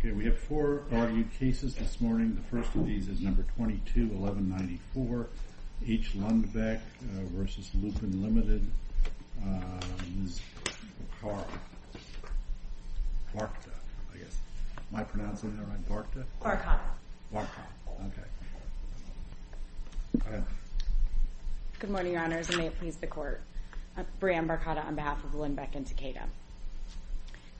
Okay, we have four argued cases this morning. The first of these is No. 22-1194, H. Lundbeck v. Lupin Ltd., Ms. Barkata, I guess. Am I pronouncing that right? Barkata? Barkata. Barkata. Okay. Good morning, Your Honors, and may it please the Court. Brianne Barkata on behalf of Lundbeck and Takeda.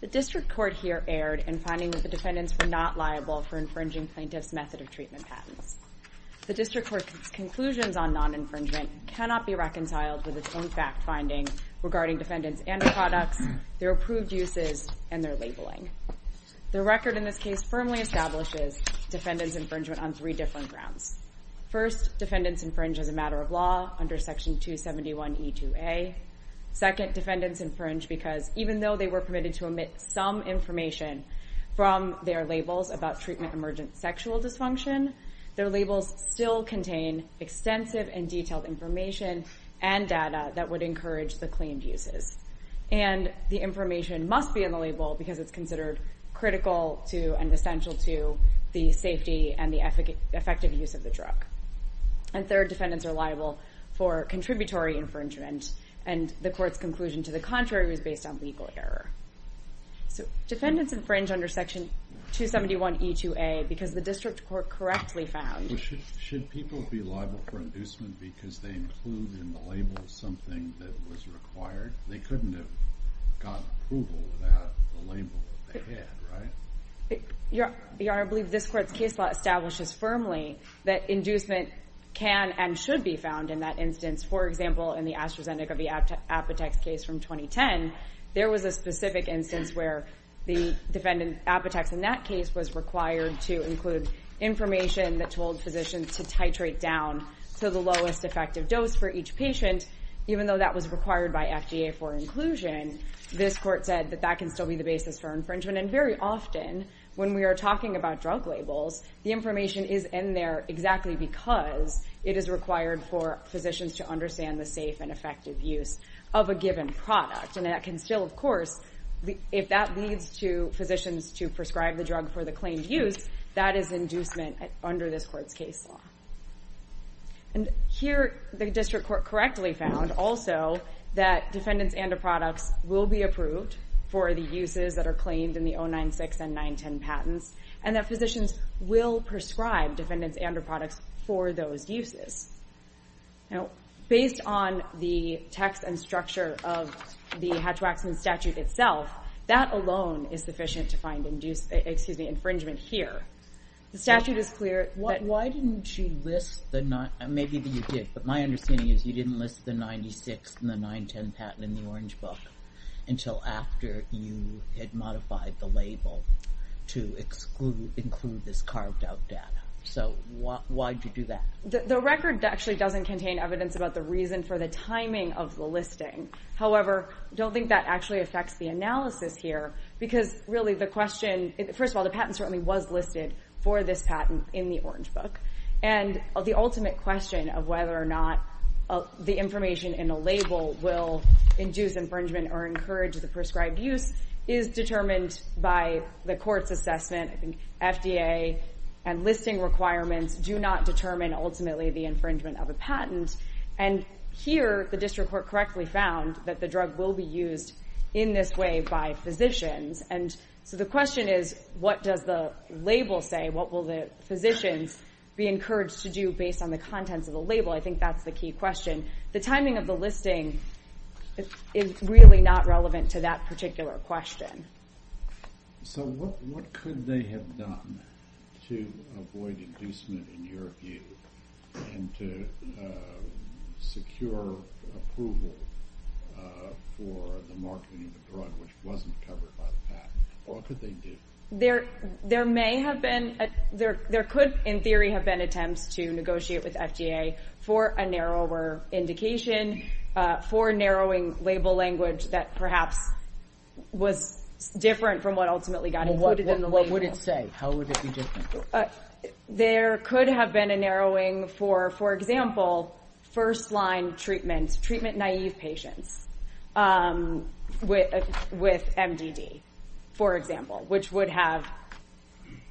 The District Court here erred in finding that the defendants were not liable for infringing plaintiffs' method of treatment patents. The District Court's conclusions on non-infringement cannot be reconciled with its own fact-finding regarding defendants and their products, their approved uses, and their labeling. The record in this case firmly establishes defendants' infringement on three different grounds. First, defendants infringe as a matter of law under Section 271e2a. Second, defendants infringe because even though they were permitted to omit some information from their labels about treatment emergent sexual dysfunction, their labels still contain extensive and detailed information and data that would encourage the claimed uses. And the information must be in the label because it's considered critical and essential to the safety and the effective use of the drug. And third, defendants are liable for contributory infringement, and the Court's conclusion to the contrary was based on legal error. So defendants infringe under Section 271e2a because the District Court correctly found... ...couldn't have gotten approval without the label that they had, right? Your Honor, I believe this Court's case law establishes firmly that inducement can and should be found in that instance. For example, in the AstraZeneca v. Apotex case from 2010, there was a specific instance where the defendant, Apotex in that case, was required to include information that told physicians to titrate down to the lowest effective dose for each patient, and even though that was required by FDA for inclusion, this Court said that that can still be the basis for infringement. And very often, when we are talking about drug labels, the information is in there exactly because it is required for physicians to understand the safe and effective use of a given product. And that can still, of course, if that leads to physicians to prescribe the drug for the claimed use, that is inducement under this Court's case law. And here, the District Court correctly found also that defendants and their products will be approved for the uses that are claimed in the 096 and 910 patents, and that physicians will prescribe defendants and their products for those uses. Now, based on the text and structure of the Hatch-Waxman statute itself, that alone is sufficient to find infringement here. The statute is clear that... Why didn't you list the... Maybe you did, but my understanding is you didn't list the 096 and the 910 patent in the Orange Book until after you had modified the label to include this carved-out data. So, why did you do that? The record actually doesn't contain evidence about the reason for the timing of the listing. However, I don't think that actually affects the analysis here because, really, the question... for this patent in the Orange Book. And the ultimate question of whether or not the information in a label will induce infringement or encourage the prescribed use is determined by the Court's assessment. I think FDA and listing requirements do not determine, ultimately, the infringement of a patent. And here, the District Court correctly found that the drug will be used in this way by physicians. And so the question is, what does the label say? What will the physicians be encouraged to do based on the contents of the label? I think that's the key question. The timing of the listing is really not relevant to that particular question. So, what could they have done to avoid inducement, in your view, and to secure approval for the marketing of a drug which wasn't covered by the patent? What could they do? There may have been... There could, in theory, have been attempts to negotiate with FDA for a narrower indication, for narrowing label language that perhaps was different from what ultimately got included in the label. What would it say? How would it be different? There could have been a narrowing for, for example, first-line treatment, treatment-naive patients with MDD, for example, which would have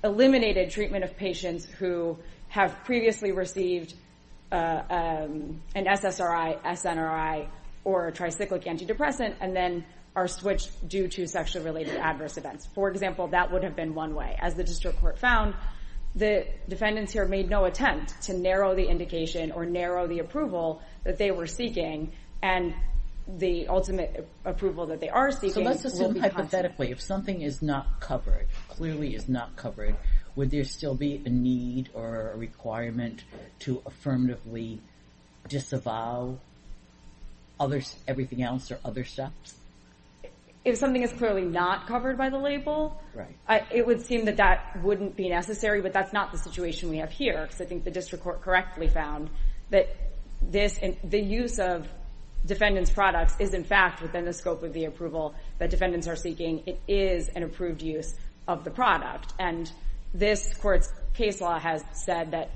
eliminated treatment of patients who have previously received an SSRI, SNRI, or a tricyclic antidepressant, and then are switched due to sexually-related adverse events. For example, that would have been one way. As the District Court found, the defendants here made no attempt to narrow the indication or narrow the approval that they were seeking. And the ultimate approval that they are seeking... Statistically, if something is not covered, clearly is not covered, would there still be a need or a requirement to affirmatively disavow everything else or other steps? If something is clearly not covered by the label, it would seem that that wouldn't be necessary, but that's not the situation we have here, because I think the District Court correctly found that the use of defendants' products is, in fact, within the scope of the approval that defendants are seeking. It is an approved use of the product. And this Court's case law has said that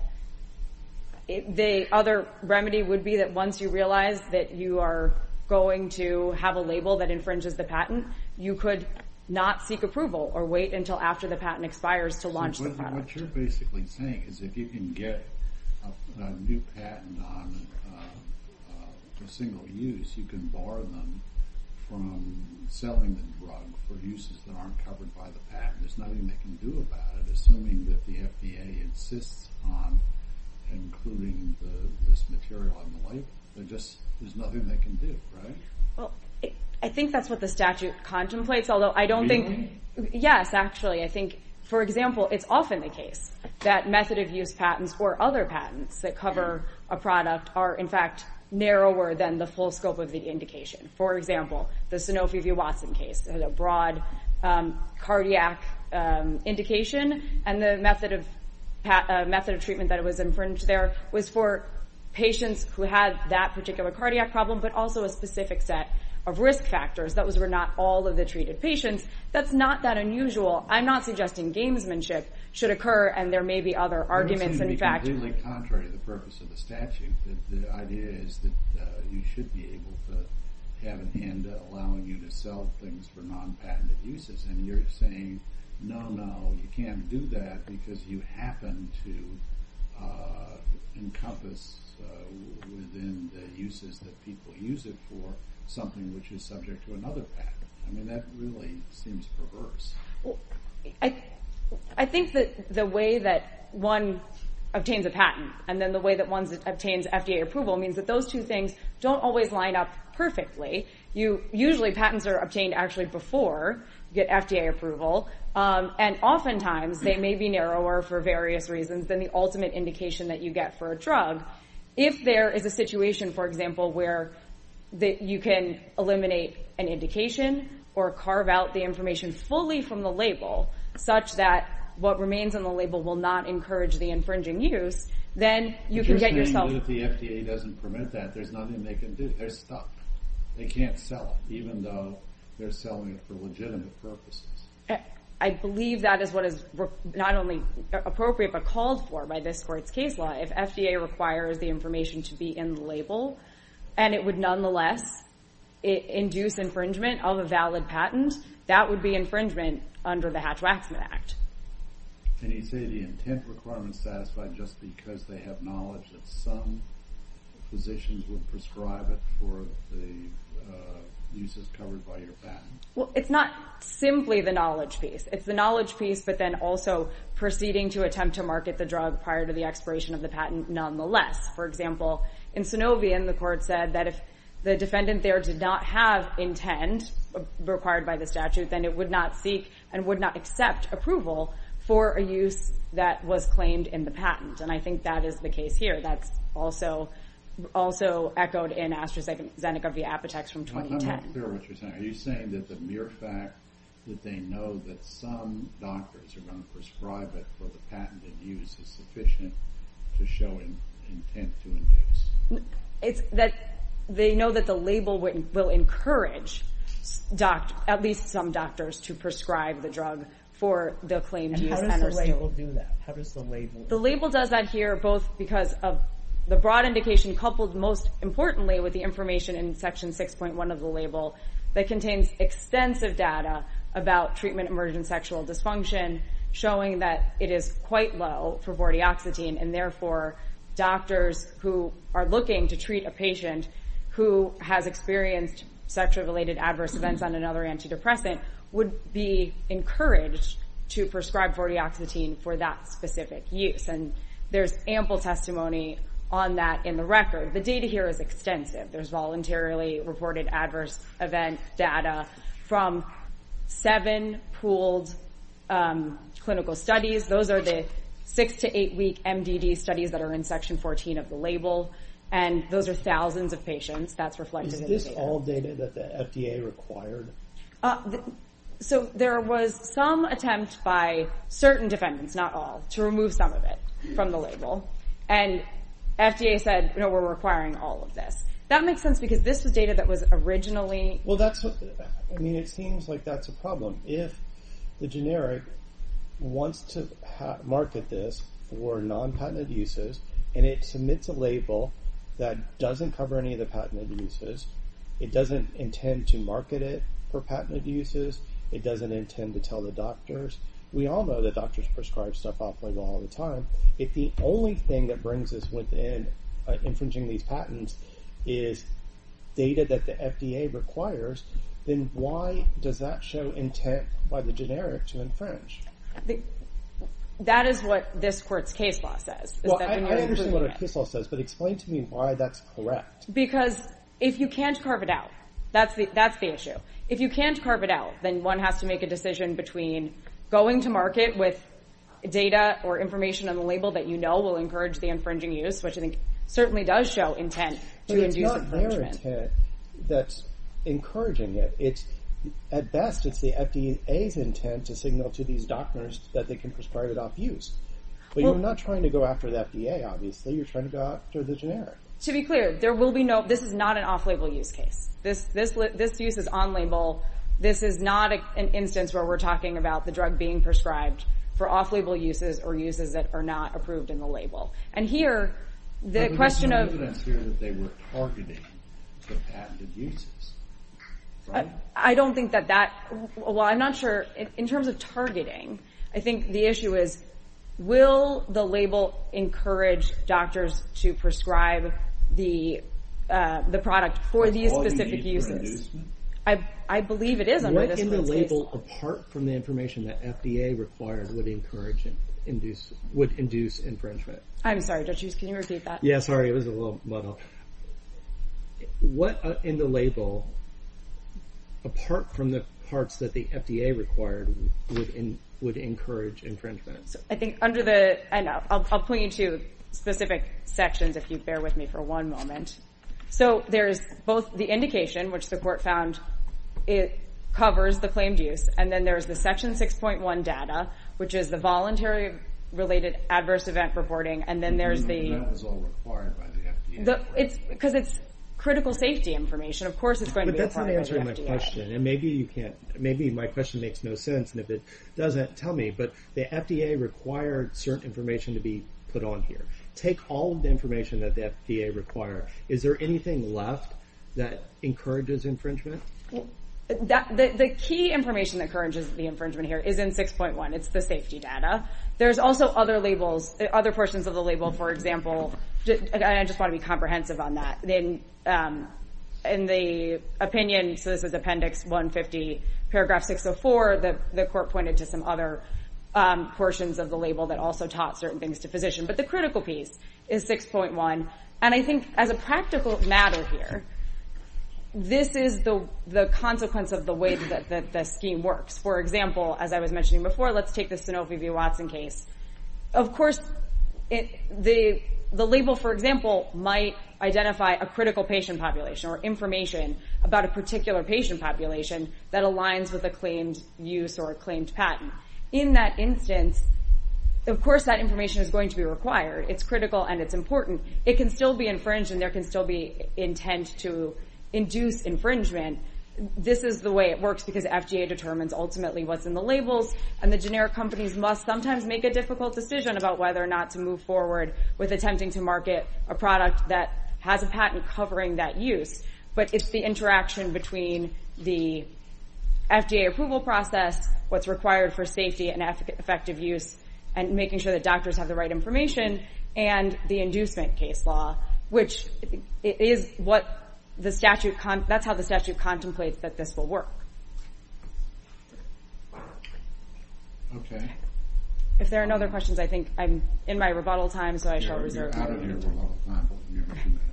the other remedy would be that once you realize that you are going to have a label that infringes the patent, you could not seek approval or wait until after the patent expires to launch the product. What you're basically saying is if you can get a new patent on a single use, you can bar them from selling the drug for uses that aren't covered by the patent. There's nothing they can do about it. Assuming that the FDA insists on including this material on the label, there's nothing they can do, right? I think that's what the statute contemplates, although I don't think... For example, it's often the case that method of use patents or other patents that cover a product are, in fact, narrower than the full scope of the indication. For example, the Sanofi v. Watson case has a broad cardiac indication, and the method of treatment that was infringed there was for patients who had that particular cardiac problem but also a specific set of risk factors. Those were not all of the treated patients. That's not that unusual. I'm not suggesting gamesmanship should occur, and there may be other arguments, in fact. It doesn't seem to be completely contrary to the purpose of the statute. The idea is that you should be able to have a hand allowing you to sell things for non-patented uses, and you're saying, no, no, you can't do that because you happen to encompass within the uses that people use it for something which is subject to another patent. I mean, that really seems perverse. I think that the way that one obtains a patent and then the way that one obtains FDA approval means that those two things don't always line up perfectly. Usually, patents are obtained actually before you get FDA approval, and oftentimes they may be narrower for various reasons than the ultimate indication that you get for a drug. If there is a situation, for example, where you can eliminate an indication or carve out the information fully from the label such that what remains on the label will not encourage the infringing use, then you can get yourself... You're saying that if the FDA doesn't permit that, there's nothing they can do. They're stuck. They can't sell it, even though they're selling it for legitimate purposes. I believe that is what is not only appropriate but called for by this Court's case law. If FDA requires the information to be in the label and it would nonetheless induce infringement of a valid patent, that would be infringement under the Hatch-Waxman Act. Can you say the intent requirement is satisfied just because they have knowledge that some physicians would prescribe it for the uses covered by your patent? Well, it's not simply the knowledge piece. It's the knowledge piece but then also proceeding to attempt to market the drug prior to the expiration of the patent nonetheless. For example, in Sanovian, the Court said that if the defendant there did not have intent required by the statute, then it would not seek and would not accept approval for a use that was claimed in the patent, and I think that is the case here. That's also echoed in AstraZeneca v. Apotex from 2010. I'm not clear what you're saying. Are you saying that the mere fact that they know that some doctors are going to prescribe it for the patented use is sufficient to show intent to induce? They know that the label will encourage at least some doctors to prescribe the drug for the claimed use. How does the label do that? The label does that here both because of the broad indication coupled most importantly with the information in Section 6.1 of the label that contains extensive data about treatment-emergent sexual dysfunction showing that it is quite low for vortioxetine and therefore doctors who are looking to treat a patient who has experienced sexually-related adverse events on another antidepressant would be encouraged to prescribe vortioxetine for that specific use, and there's ample testimony on that in the record. The data here is extensive. There's voluntarily reported adverse event data from seven pooled clinical studies. Those are the six- to eight-week MDD studies that are in Section 14 of the label, and those are thousands of patients. That's reflected in the data. Is this all data that the FDA required? There was some attempt by certain defendants, not all, to remove some of it from the label, and FDA said, no, we're requiring all of this. That makes sense because this was data that was originally. It seems like that's a problem. If the generic wants to market this for non-patent abuses and it submits a label that doesn't cover any of the patent abuses, it doesn't intend to market it for patent abuses, it doesn't intend to tell the doctors. We all know that doctors prescribe stuff off-label all the time. If the only thing that brings us within infringing these patents is data that the FDA requires, then why does that show intent by the generic to infringe? That is what this court's case law says. I understand what a case law says, but explain to me why that's correct. Because if you can't carve it out, that's the issue. If you can't carve it out, then one has to make a decision between going to market with data or information on the label that you know will encourage the infringing use, which I think certainly does show intent to induce infringement. But it's not their intent that's encouraging it. At best, it's the FDA's intent to signal to these doctors that they can prescribe it off-use. But you're not trying to go after the FDA, obviously. You're trying to go after the generic. To be clear, this is not an off-label use case. This use is on-label. This is not an instance where we're talking about the drug being prescribed for off-label uses or uses that are not approved in the label. But there's no evidence here that they were targeting the patented uses. I'm not sure. In terms of targeting, I think the issue is, will the label encourage doctors to prescribe the product for these specific uses? I believe it is. What in the label, apart from the information that FDA required, would induce infringement? I'm sorry, Judge Hughes, can you repeat that? Yeah, sorry, it was a little muddled. What in the label, apart from the parts that the FDA required, would encourage infringement? I'll point you to specific sections if you bear with me for one moment. So there's both the indication, which the court found covers the claimed use, and then there's the Section 6.1 data, which is the voluntary-related adverse event reporting, and then there's the... That was all required by the FDA. Because it's critical safety information. Of course it's going to be a part of the FDA. But that's not answering my question. Maybe my question makes no sense, and if it doesn't, tell me. But the FDA required certain information to be put on here. Take all of the information that the FDA required. Is there anything left that encourages infringement? The key information that encourages the infringement here is in 6.1. It's the safety data. There's also other labels, other portions of the label, for example. I just want to be comprehensive on that. In the opinion, so this is Appendix 150, Paragraph 604, the court pointed to some other portions of the label that also taught certain things to physicians. But the critical piece is 6.1, and I think as a practical matter here, this is the consequence of the way that the scheme works. For example, as I was mentioning before, let's take the Sanofi v. Watson case. Of course, the label, for example, might identify a critical patient population or information about a particular patient population that aligns with a claimed use or a claimed patent. In that instance, of course that information is going to be required. It's critical and it's important. It can still be infringed and there can still be intent to induce infringement. This is the way it works because FDA determines ultimately what's in the labels, and the generic companies must sometimes make a difficult decision about whether or not to move forward with attempting to market a product that has a patent covering that use. But it's the interaction between the FDA approval process, what's required for safety and effective use, and making sure that doctors have the right information, and the inducement case law, which that's how the statute contemplates that this will work. If there are no other questions, I think I'm in my rebuttal time, so I shall reserve. We're out of here. We're out of time. We have a few minutes.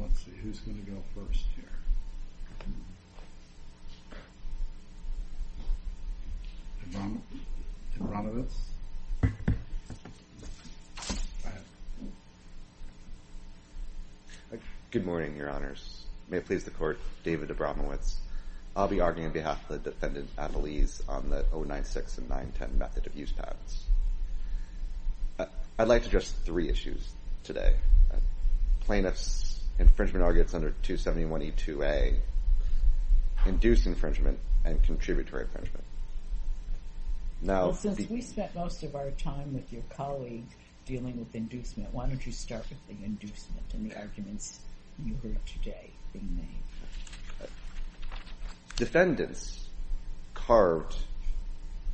Let's see, who's going to go first here? Debranovitz? Good morning, Your Honors. May it please the Court, David Debranovitz. I'll be arguing on behalf of the defendant, Annalise, on the 096 and 910 method of use patents. I'd like to address three issues today. Plaintiff's infringement arguments under 271E2A, induced infringement, and contributory infringement. Since we spent most of our time with your colleague dealing with inducement, why don't you start with the inducement and the arguments you heard today being made. Defendants carved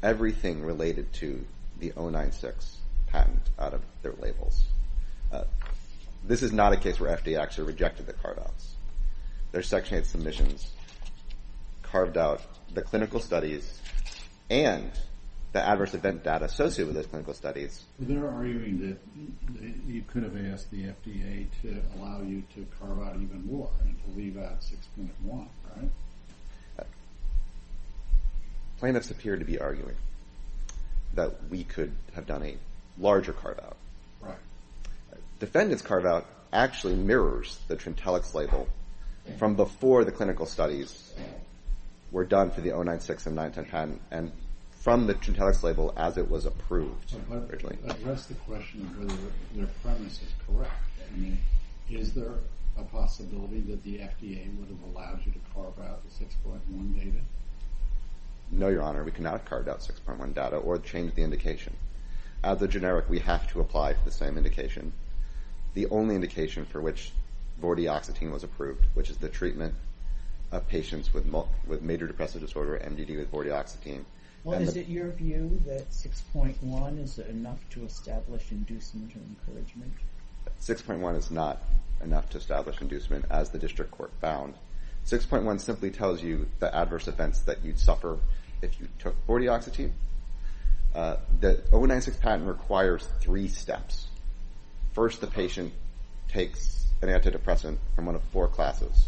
everything related to the 096 patent out of their labels. This is not a case where FDA actually rejected the card outs. Their Section 8 submissions carved out the clinical studies and the adverse event data associated with those clinical studies. They're arguing that you could have asked the FDA to allow you to carve out even more, and to leave out 6.1, right? Plaintiffs appear to be arguing that we could have done a larger carve-out. Defendants' carve-out actually mirrors the Trintellix label from before the clinical studies were done for the 096 and 910 patent, and from the Trintellix label as it was approved. I'd like to address the question of whether their premise is correct. Is there a possibility that the FDA would have allowed you to carve out the 6.1 data? No, Your Honor. We could not have carved out 6.1 data or changed the indication. As a generic, we have to apply the same indication. The only indication for which vortioxetine was approved, which is the treatment of patients with major depressive disorder, MDD with vortioxetine. Is it your view that 6.1 is enough to establish inducement or encouragement? 6.1 is not enough to establish inducement, as the district court found. 6.1 simply tells you the adverse events that you'd suffer if you took vortioxetine. The 096 patent requires three steps. First, the patient takes an antidepressant from one of four classes.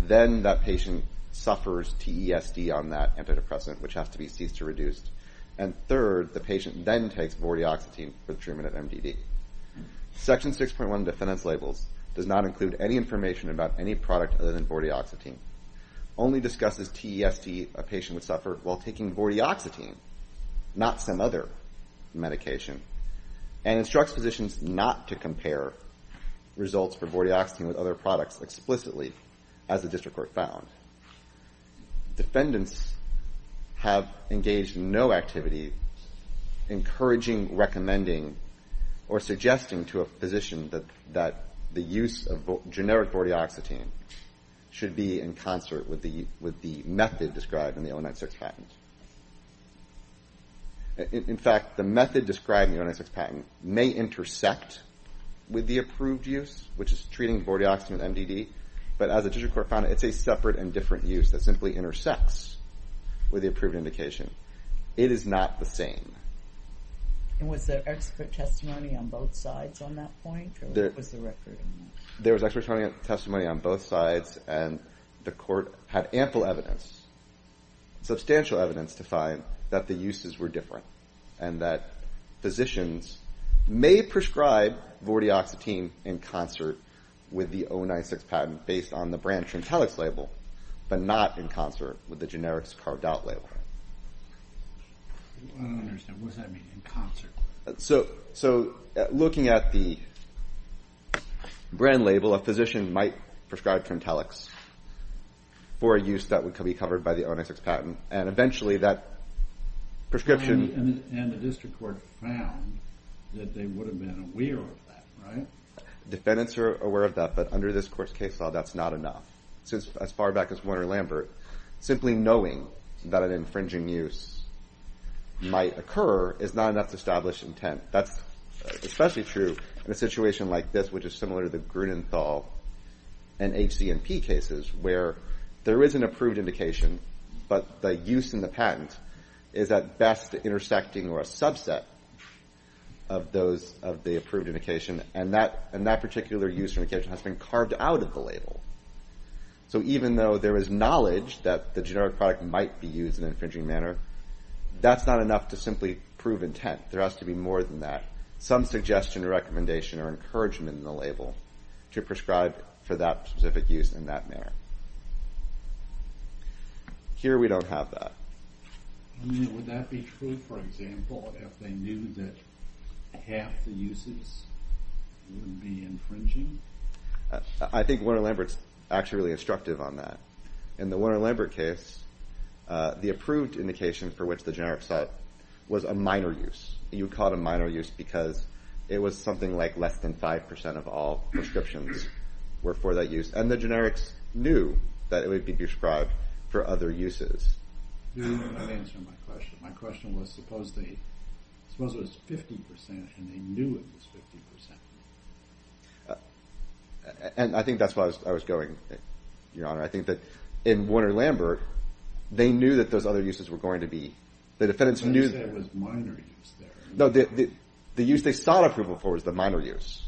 Then that patient suffers TESD on that antidepressant, which has to be ceased to reduce. And third, the patient then takes vortioxetine for the treatment of MDD. Section 6.1 of the defendant's labels does not include any information about any product other than vortioxetine, only discusses TESD a patient would suffer while taking vortioxetine, not some other medication, and instructs physicians not to compare results for vortioxetine with other products explicitly, as the district court found. Defendants have engaged in no activity encouraging, recommending, or suggesting to a physician that the use of generic vortioxetine should be in concert with the method described in the 096 patent. In fact, the method described in the 096 patent may intersect with the approved use, which is treating vortioxetine with MDD, but as the district court found, it's a separate and different use that simply intersects with the approved indication. It is not the same. And was there expert testimony on both sides on that point, or what was the record? There was expert testimony on both sides, and the court had ample evidence, substantial evidence to find that the uses were different, and that physicians may prescribe vortioxetine in concert with the 096 patent based on the brand Trimtelex label, but not in concert with the generics carved-out label. I don't understand. What does that mean, in concert? So looking at the brand label, a physician might prescribe Trimtelex for a use that would be covered by the 096 patent, and eventually that prescription... And the district court found that they would have been aware of that, right? Defendants are aware of that, but under this court's case law, that's not enough. As far back as Warner-Lambert, simply knowing that an infringing use might occur is not enough to establish intent. That's especially true in a situation like this, which is similar to the Grunenthal and HC&P cases, where there is an approved indication, but the use in the patent is at best intersecting or a subset of the approved indication, and that particular use has been carved out of the label. So even though there is knowledge that the generic product might be used in an infringing manner, that's not enough to simply prove intent. There has to be more than that. Some suggestion, recommendation, or encouragement in the label to prescribe for that specific use in that manner. Here we don't have that. Would that be true, for example, if they knew that half the uses would be infringing? I think Warner-Lambert's actually really instructive on that. In the Warner-Lambert case, the approved indication for which the generics set was a minor use. You would call it a minor use because it was something like less than 5% of all prescriptions were for that use, and the generics knew that it would be prescribed for other uses. Let me answer my question. My question was, suppose it was 50% and they knew it was 50%? And I think that's where I was going, Your Honor. I think that in Warner-Lambert, they knew that those other uses were going to be. The defendant knew that it was a minor use there. No, the use they sought approval for was the minor use.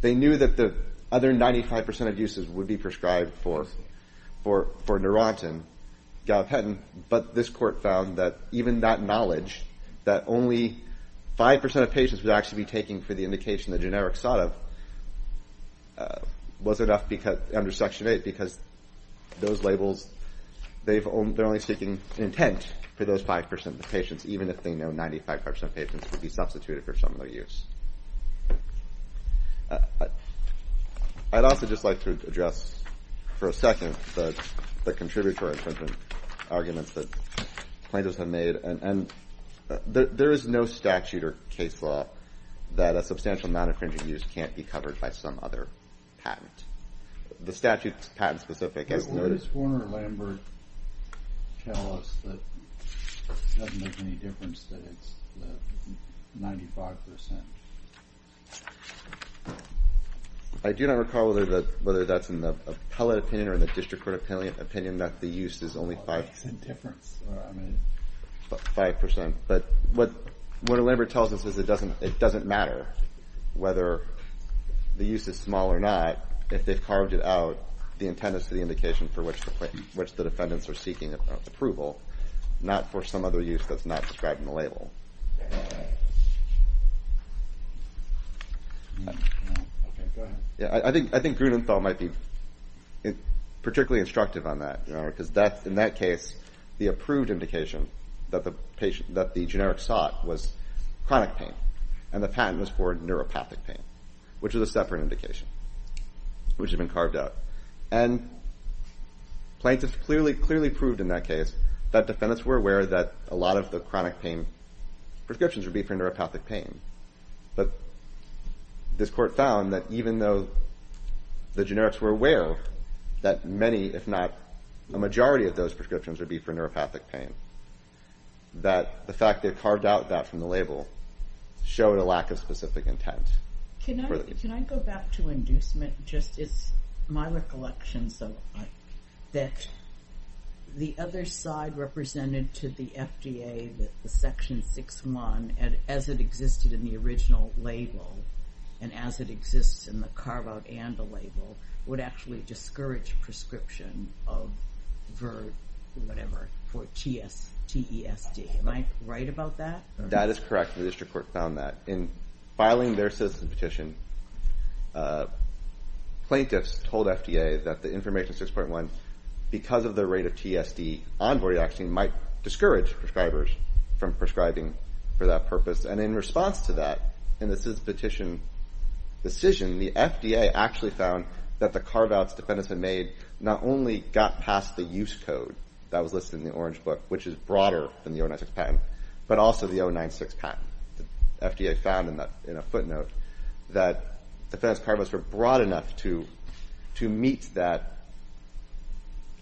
They knew that the other 95% of uses would be prescribed for Neurontin, Galpetin, but this court found that even that knowledge, that only 5% of patients would actually be taking for the indication the generics sought of, wasn't enough under Section 8 because those labels, they're only seeking intent for those 5% of the patients, even if they know 95% of patients would be substituted for some of their use. I'd also just like to address for a second the contributory arguments that plaintiffs have made, and there is no statute or case law that a substantial amount of pharyngeal use can't be covered by some other patent. The statute's patent-specific. Does Warner-Lambert tell us that it doesn't make any difference that it's 95%? I do not recall whether that's in the appellate opinion or the district court opinion that the use is only 5%. But what Warner-Lambert tells us is it doesn't matter whether the use is small or not. If they've carved it out, the intent is for the indication for which the defendants are seeking approval, not for some other use that's not described in the label. I think Grunenthal might be particularly instructive on that, because in that case, the approved indication that the generics sought was chronic pain, and the patent was for neuropathic pain, which was a separate indication, which had been carved out. And plaintiffs clearly proved in that case that defendants were aware that a lot of the chronic pain prescriptions would be for neuropathic pain. But this court found that even though the generics were aware that many, if not a majority of those prescriptions would be for neuropathic pain, that the fact they carved out that from the label showed a lack of specific intent. Can I go back to inducement? It's my recollection that the other side represented to the FDA that the Section 6-1, as it existed in the original label, and as it exists in the carve-out and the label, would actually discourage prescription for TESD. Am I right about that? That is correct. The district court found that. In filing their citizen petition, plaintiffs told FDA that the Information 6.1, because of the rate of TSD on vortidoxine, might discourage prescribers from prescribing for that purpose. And in response to that, in the citizen petition decision, the FDA actually found that the carve-outs defendants had made not only got past the use code that was listed in the Orange Book, which is broader than the 096 patent, but also the 096 patent. The FDA found in a footnote that defendants' carve-outs were broad enough to meet that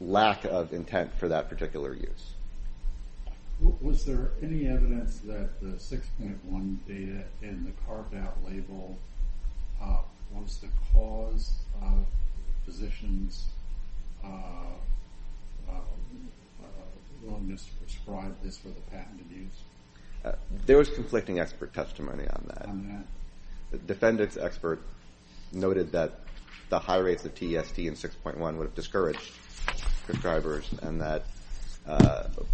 lack of intent for that particular use. Was there any evidence that the 6.1 data in the carve-out label was the cause of physicians' willingness to prescribe this for the patented use? There was conflicting expert testimony on that. The defendants' expert noted that the high rates of TESD and 6.1 would have discouraged prescribers, and that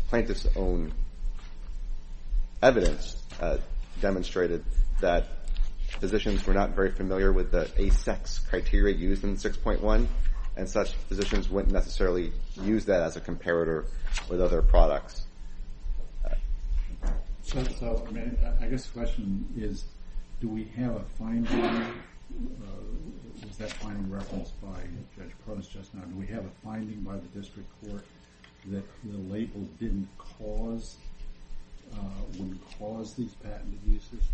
plaintiffs' own evidence demonstrated that physicians were not very familiar with the ASEX criteria used in 6.1, and such physicians wouldn't necessarily use that as a comparator with other products. I guess the question is, do we have a finding? Was that finding referenced by Judge Post just now? Do we have a finding by the district court that the label wouldn't cause these patented uses?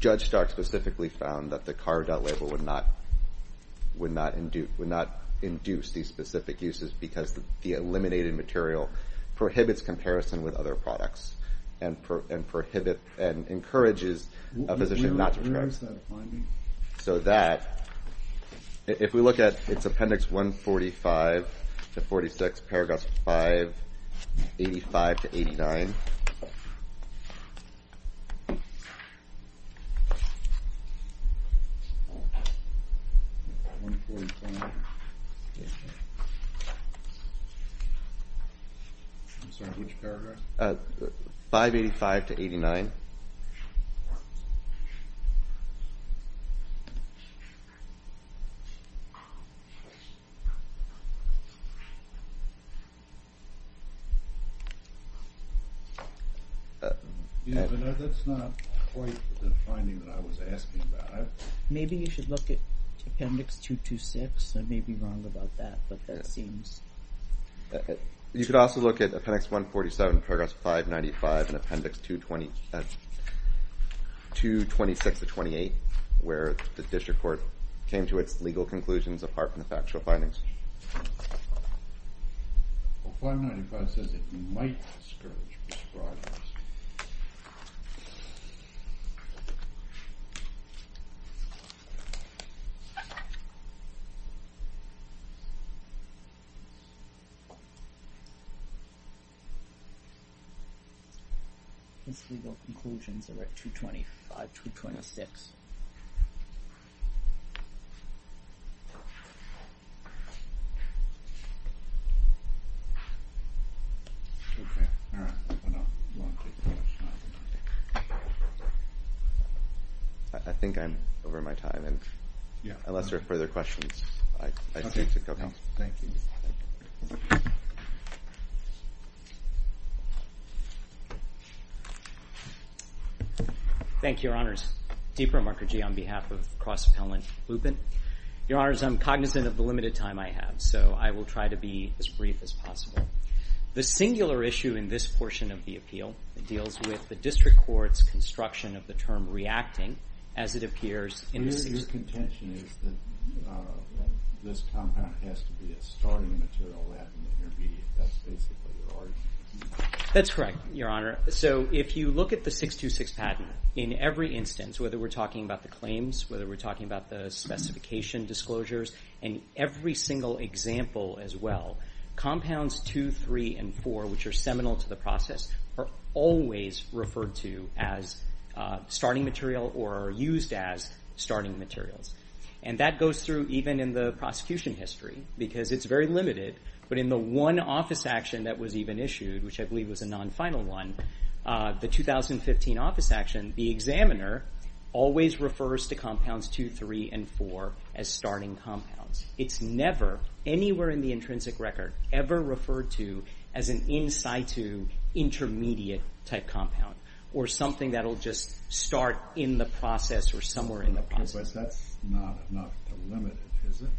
Judge Stark specifically found that the carve-out label would not induce these specific uses because the eliminated material prohibits comparison with other products and encourages a physician not to prescribe. So that, if we look at Appendix 145-46, Paragraphs 585-89. 585-89. 585-89. That's not quite the finding that I was asking about. Maybe you should look at Appendix 226. I may be wrong about that, but that seems— You could also look at Appendix 147, Paragraphs 595 and Appendix 226-28, where the district court came to its legal conclusions apart from the factual findings. Well, 595 says that you might discourage prescribers. His legal conclusions are at 225-226. I think I'm over my time, and unless there are further questions, I seem to have— Thank you. Thank you. Thank you, Your Honors. Deepar Markerjee on behalf of Cross Appellant Blupin. Your Honors, I'm cognizant of the limited time I have, so I will try to be as brief as possible. The singular issue in this portion of the appeal deals with the district court's construction of the term reacting, as it appears in the— Your contention is that this compound has to be a starting material at an intermediate. That's basically your argument. That's correct, Your Honor. So if you look at the 626 patent, in every instance, whether we're talking about the claims, whether we're talking about the specification disclosures, and every single example as well, compounds 2, 3, and 4, which are seminal to the process, are always referred to as starting material or used as starting materials. And that goes through even in the prosecution history, because it's very limited. But in the one office action that was even issued, which I believe was a non-final one, the 2015 office action, the examiner always refers to compounds 2, 3, and 4 as starting compounds. It's never, anywhere in the intrinsic record, ever referred to as an in situ, intermediate-type compound or something that will just start in the process or somewhere in the process. But that's not a limit, is it?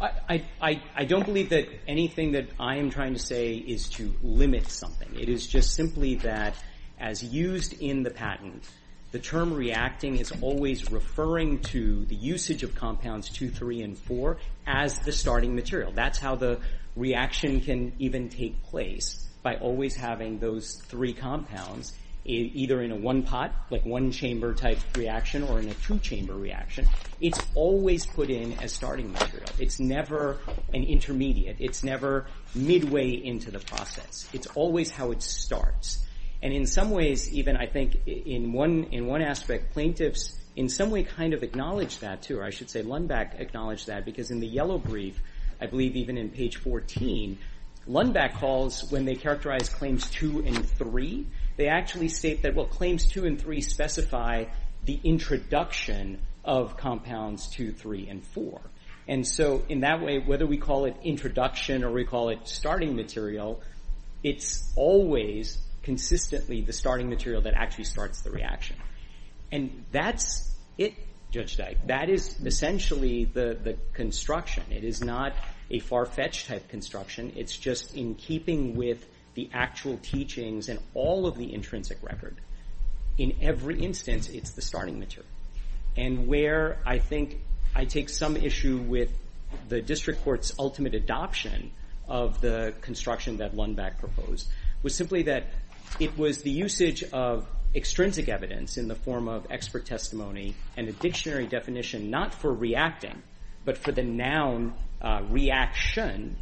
I don't believe that anything that I am trying to say is to limit something. It is just simply that, as used in the patent, the term reacting is always referring to the usage of compounds 2, 3, and 4 as the starting material. That's how the reaction can even take place, by always having those three compounds either in a one pot, like one chamber-type reaction, or in a two chamber reaction. It's always put in as starting material. It's never an intermediate. It's never midway into the process. It's always how it starts. In some ways, even, I think in one aspect, plaintiffs in some way kind of acknowledge that, too. I should say Lundback acknowledged that, because in the yellow brief, I believe even in page 14, Lundback calls when they characterize claims 2 and 3, they actually state that claims 2 and 3 specify the introduction of compounds 2, 3, and 4. In that way, whether we call it introduction or we call it starting material, it's always consistently the starting material that actually starts the reaction. And that's it, Judge Dyke. That is essentially the construction. It is not a far-fetched type construction. It's just in keeping with the actual teachings and all of the intrinsic record. In every instance, it's the starting material. And where I think I take some issue with the district court's ultimate adoption of the construction that Lundback proposed was simply that it was the usage of extrinsic evidence in the form of expert testimony and a dictionary definition not for reacting, but for the noun reaction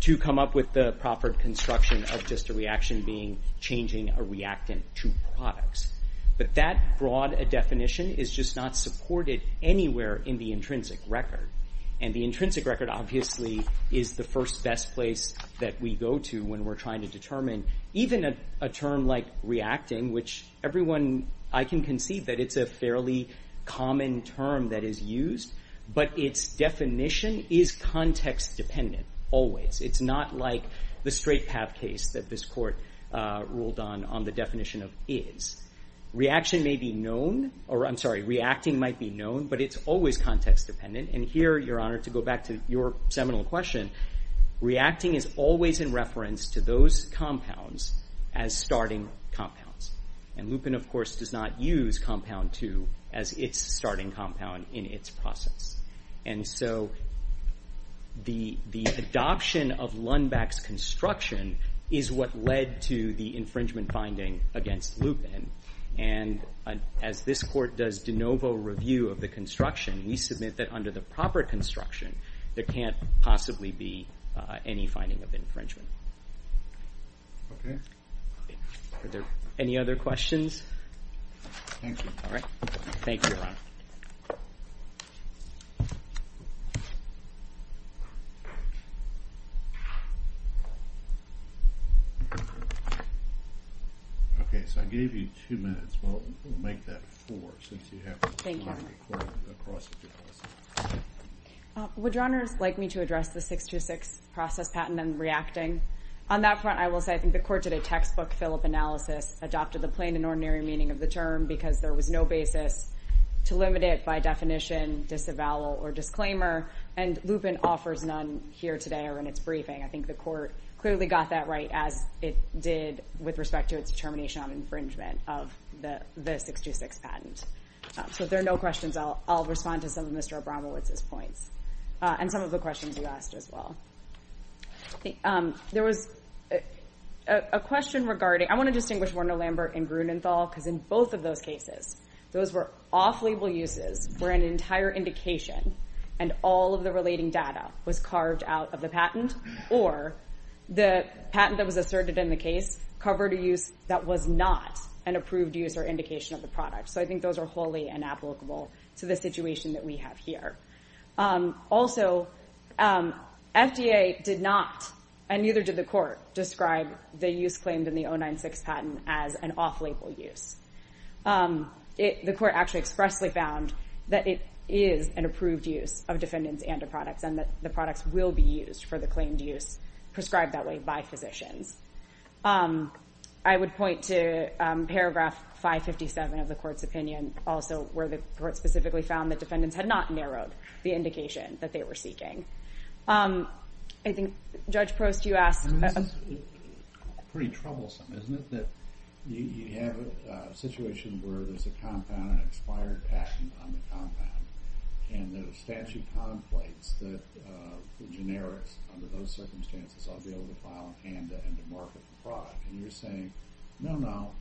to come up with the proffered construction of just a reaction being changing a reactant to products. But that broad a definition is just not supported anywhere in the intrinsic record. And the intrinsic record obviously is the first best place that we go to when we're trying to determine even a term like reacting, which everyone, I can concede that it's a fairly common term that is used, but its definition is context-dependent always. It's not like the straight path case that this court ruled on on the definition of is. Reaction may be known, or I'm sorry, reacting might be known, but it's always context-dependent. And here, Your Honor, to go back to your seminal question, reacting is always in reference to those compounds as starting compounds. And Lupin, of course, does not use compound 2 as its starting compound in its process. And so the adoption of Lundback's construction is what led to the infringement finding against Lupin. And as this court does de novo review of the construction, we submit that under the proper construction, there can't possibly be any finding of infringement. Okay. Are there any other questions? Thank you. All right. Thank you, Your Honor. Okay. So I gave you two minutes. We'll make that four since you have a time requirement across the two houses. Would Your Honors like me to address the 626 process patent and reacting? On that front, I will say I think the court did a textbook fill-up analysis, adopted the plain and ordinary meaning of the term because there was no basis to limit it by definition, disavowal, or disclaimer. And Lupin offers none here today or in its briefing. I think the court clearly got that right, as it did with respect to its determination on infringement of the 626 patent. So if there are no questions, I'll respond to some of Mr. Abramowitz's points and some of the questions you asked as well. There was a question regarding – I want to distinguish Werner Lambert and Grunenthal because in both of those cases, those were off-label uses where an entire indication and all of the relating data was carved out of the patent or the patent that was asserted in the case covered a use that was not an approved use or indication of the product. So I think those are wholly inapplicable to the situation that we have here. described the use claimed in the 096 patent as an off-label use. The court actually expressly found that it is an approved use of defendants and of products and that the products will be used for the claimed use prescribed that way by physicians. I would point to paragraph 557 of the court's opinion, also where the court specifically found that defendants had not narrowed the indication that they were seeking. I think Judge Prost, you asked – I mean, this is pretty troublesome, isn't it? That you have a situation where there's a compound, an expired patent on the compound and the statute conflates that the generics under those circumstances ought to be able to file a canda and to market the product. And you're saying, no, no,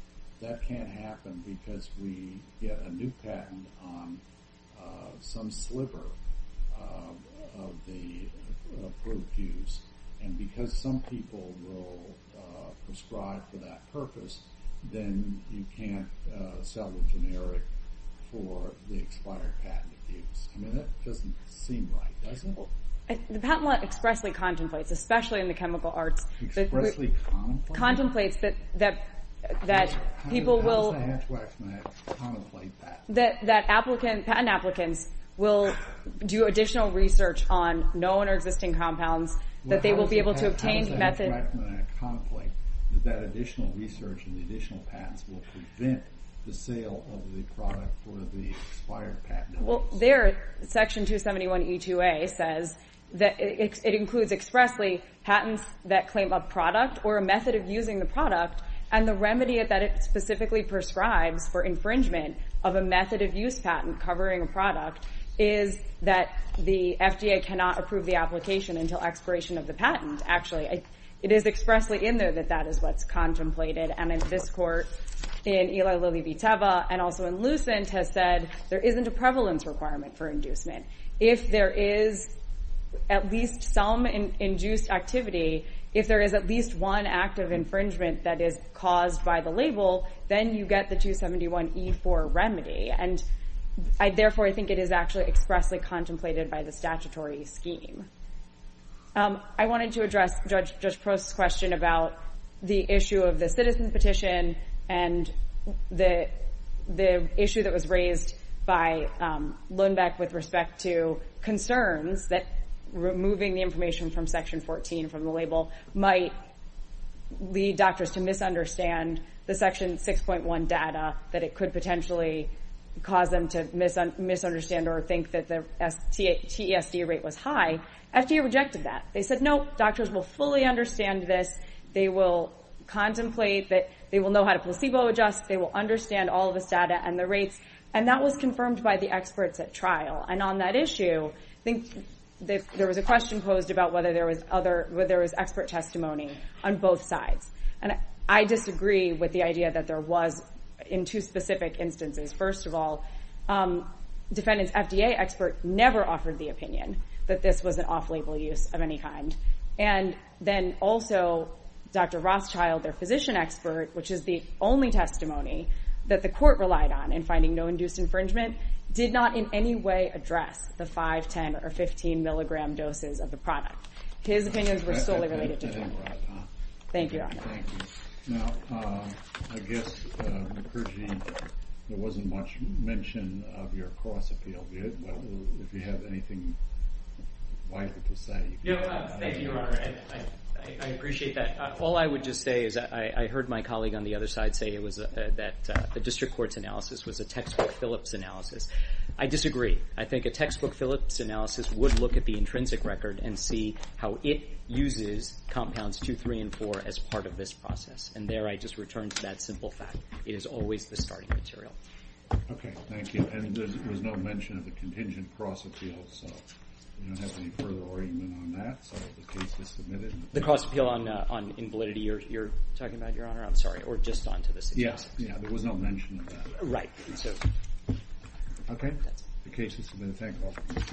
that can't happen because we get a new patent on some sliver of the approved use. And because some people will prescribe for that purpose, then you can't sell the generic for the expired patent abuse. I mean, that doesn't seem right, does it? The patent law expressly contemplates, especially in the chemical arts. Expressly contemplates? Contemplates that people will – that patent applicants will do additional research on known or existing compounds, that they will be able to obtain methods. Well, how does that reflect in a contemplate that that additional research and the additional patents will prevent the sale of the product for the expired patent? Well, there, Section 271E2A says that it includes expressly patents that claim a product or a method of using the product and the remedy that it specifically prescribes for infringement of a method of use patent covering a product is that the FDA cannot approve the application until expiration of the patent. Actually, it is expressly in there that that is what's contemplated. And in this court, in Ila Lili Viteva and also in Lucent, has said there isn't a prevalence requirement for inducement. If there is at least some induced activity, if there is at least one act of infringement that is caused by the label, then you get the 271E4 remedy. And, therefore, I think it is actually expressly contemplated by the statutory scheme. I wanted to address Judge Prost's question about the issue of the citizen petition and the issue that was raised by Lundbeck with respect to concerns that removing the information from Section 14 from the label might lead doctors to misunderstand the Section 6.1 data that it could potentially cause them to misunderstand or think that the TESD rate was high. FDA rejected that. They said, no, doctors will fully understand this. They will contemplate that they will know how to placebo adjust. They will understand all of this data and the rates. And that was confirmed by the experts at trial. And on that issue, I think there was a question posed about whether there was expert testimony on both sides. And I disagree with the idea that there was in two specific instances. First of all, defendants' FDA expert never offered the opinion that this was an off-label use of any kind. And then, also, Dr. Rothschild, their physician expert, which is the only testimony that the court relied on in finding no induced infringement, did not in any way address the 5-, 10-, or 15-milligram doses of the product. His opinions were solely related to that. Thank you, Your Honor. Thank you. Now, I guess, McCurgey, there wasn't much mention of your cross-appeal. Do you have anything vital to say? No, thank you, Your Honor. I appreciate that. All I would just say is I heard my colleague on the other side say that the district court's analysis was a textbook Phillips analysis. I disagree. I think a textbook Phillips analysis would look at the intrinsic record and see how it uses compounds 2, 3, and 4 as part of this process. And there I just return to that simple fact. It is always the starting material. Okay, thank you. And there was no mention of the contingent cross-appeal, so we don't have any further argument on that. So the case is submitted. The cross-appeal in validity you're talking about, Your Honor, I'm sorry, or just on to the suggestion. Yeah, there was no mention of that. Right. Okay. The case is submitted. Thank you all.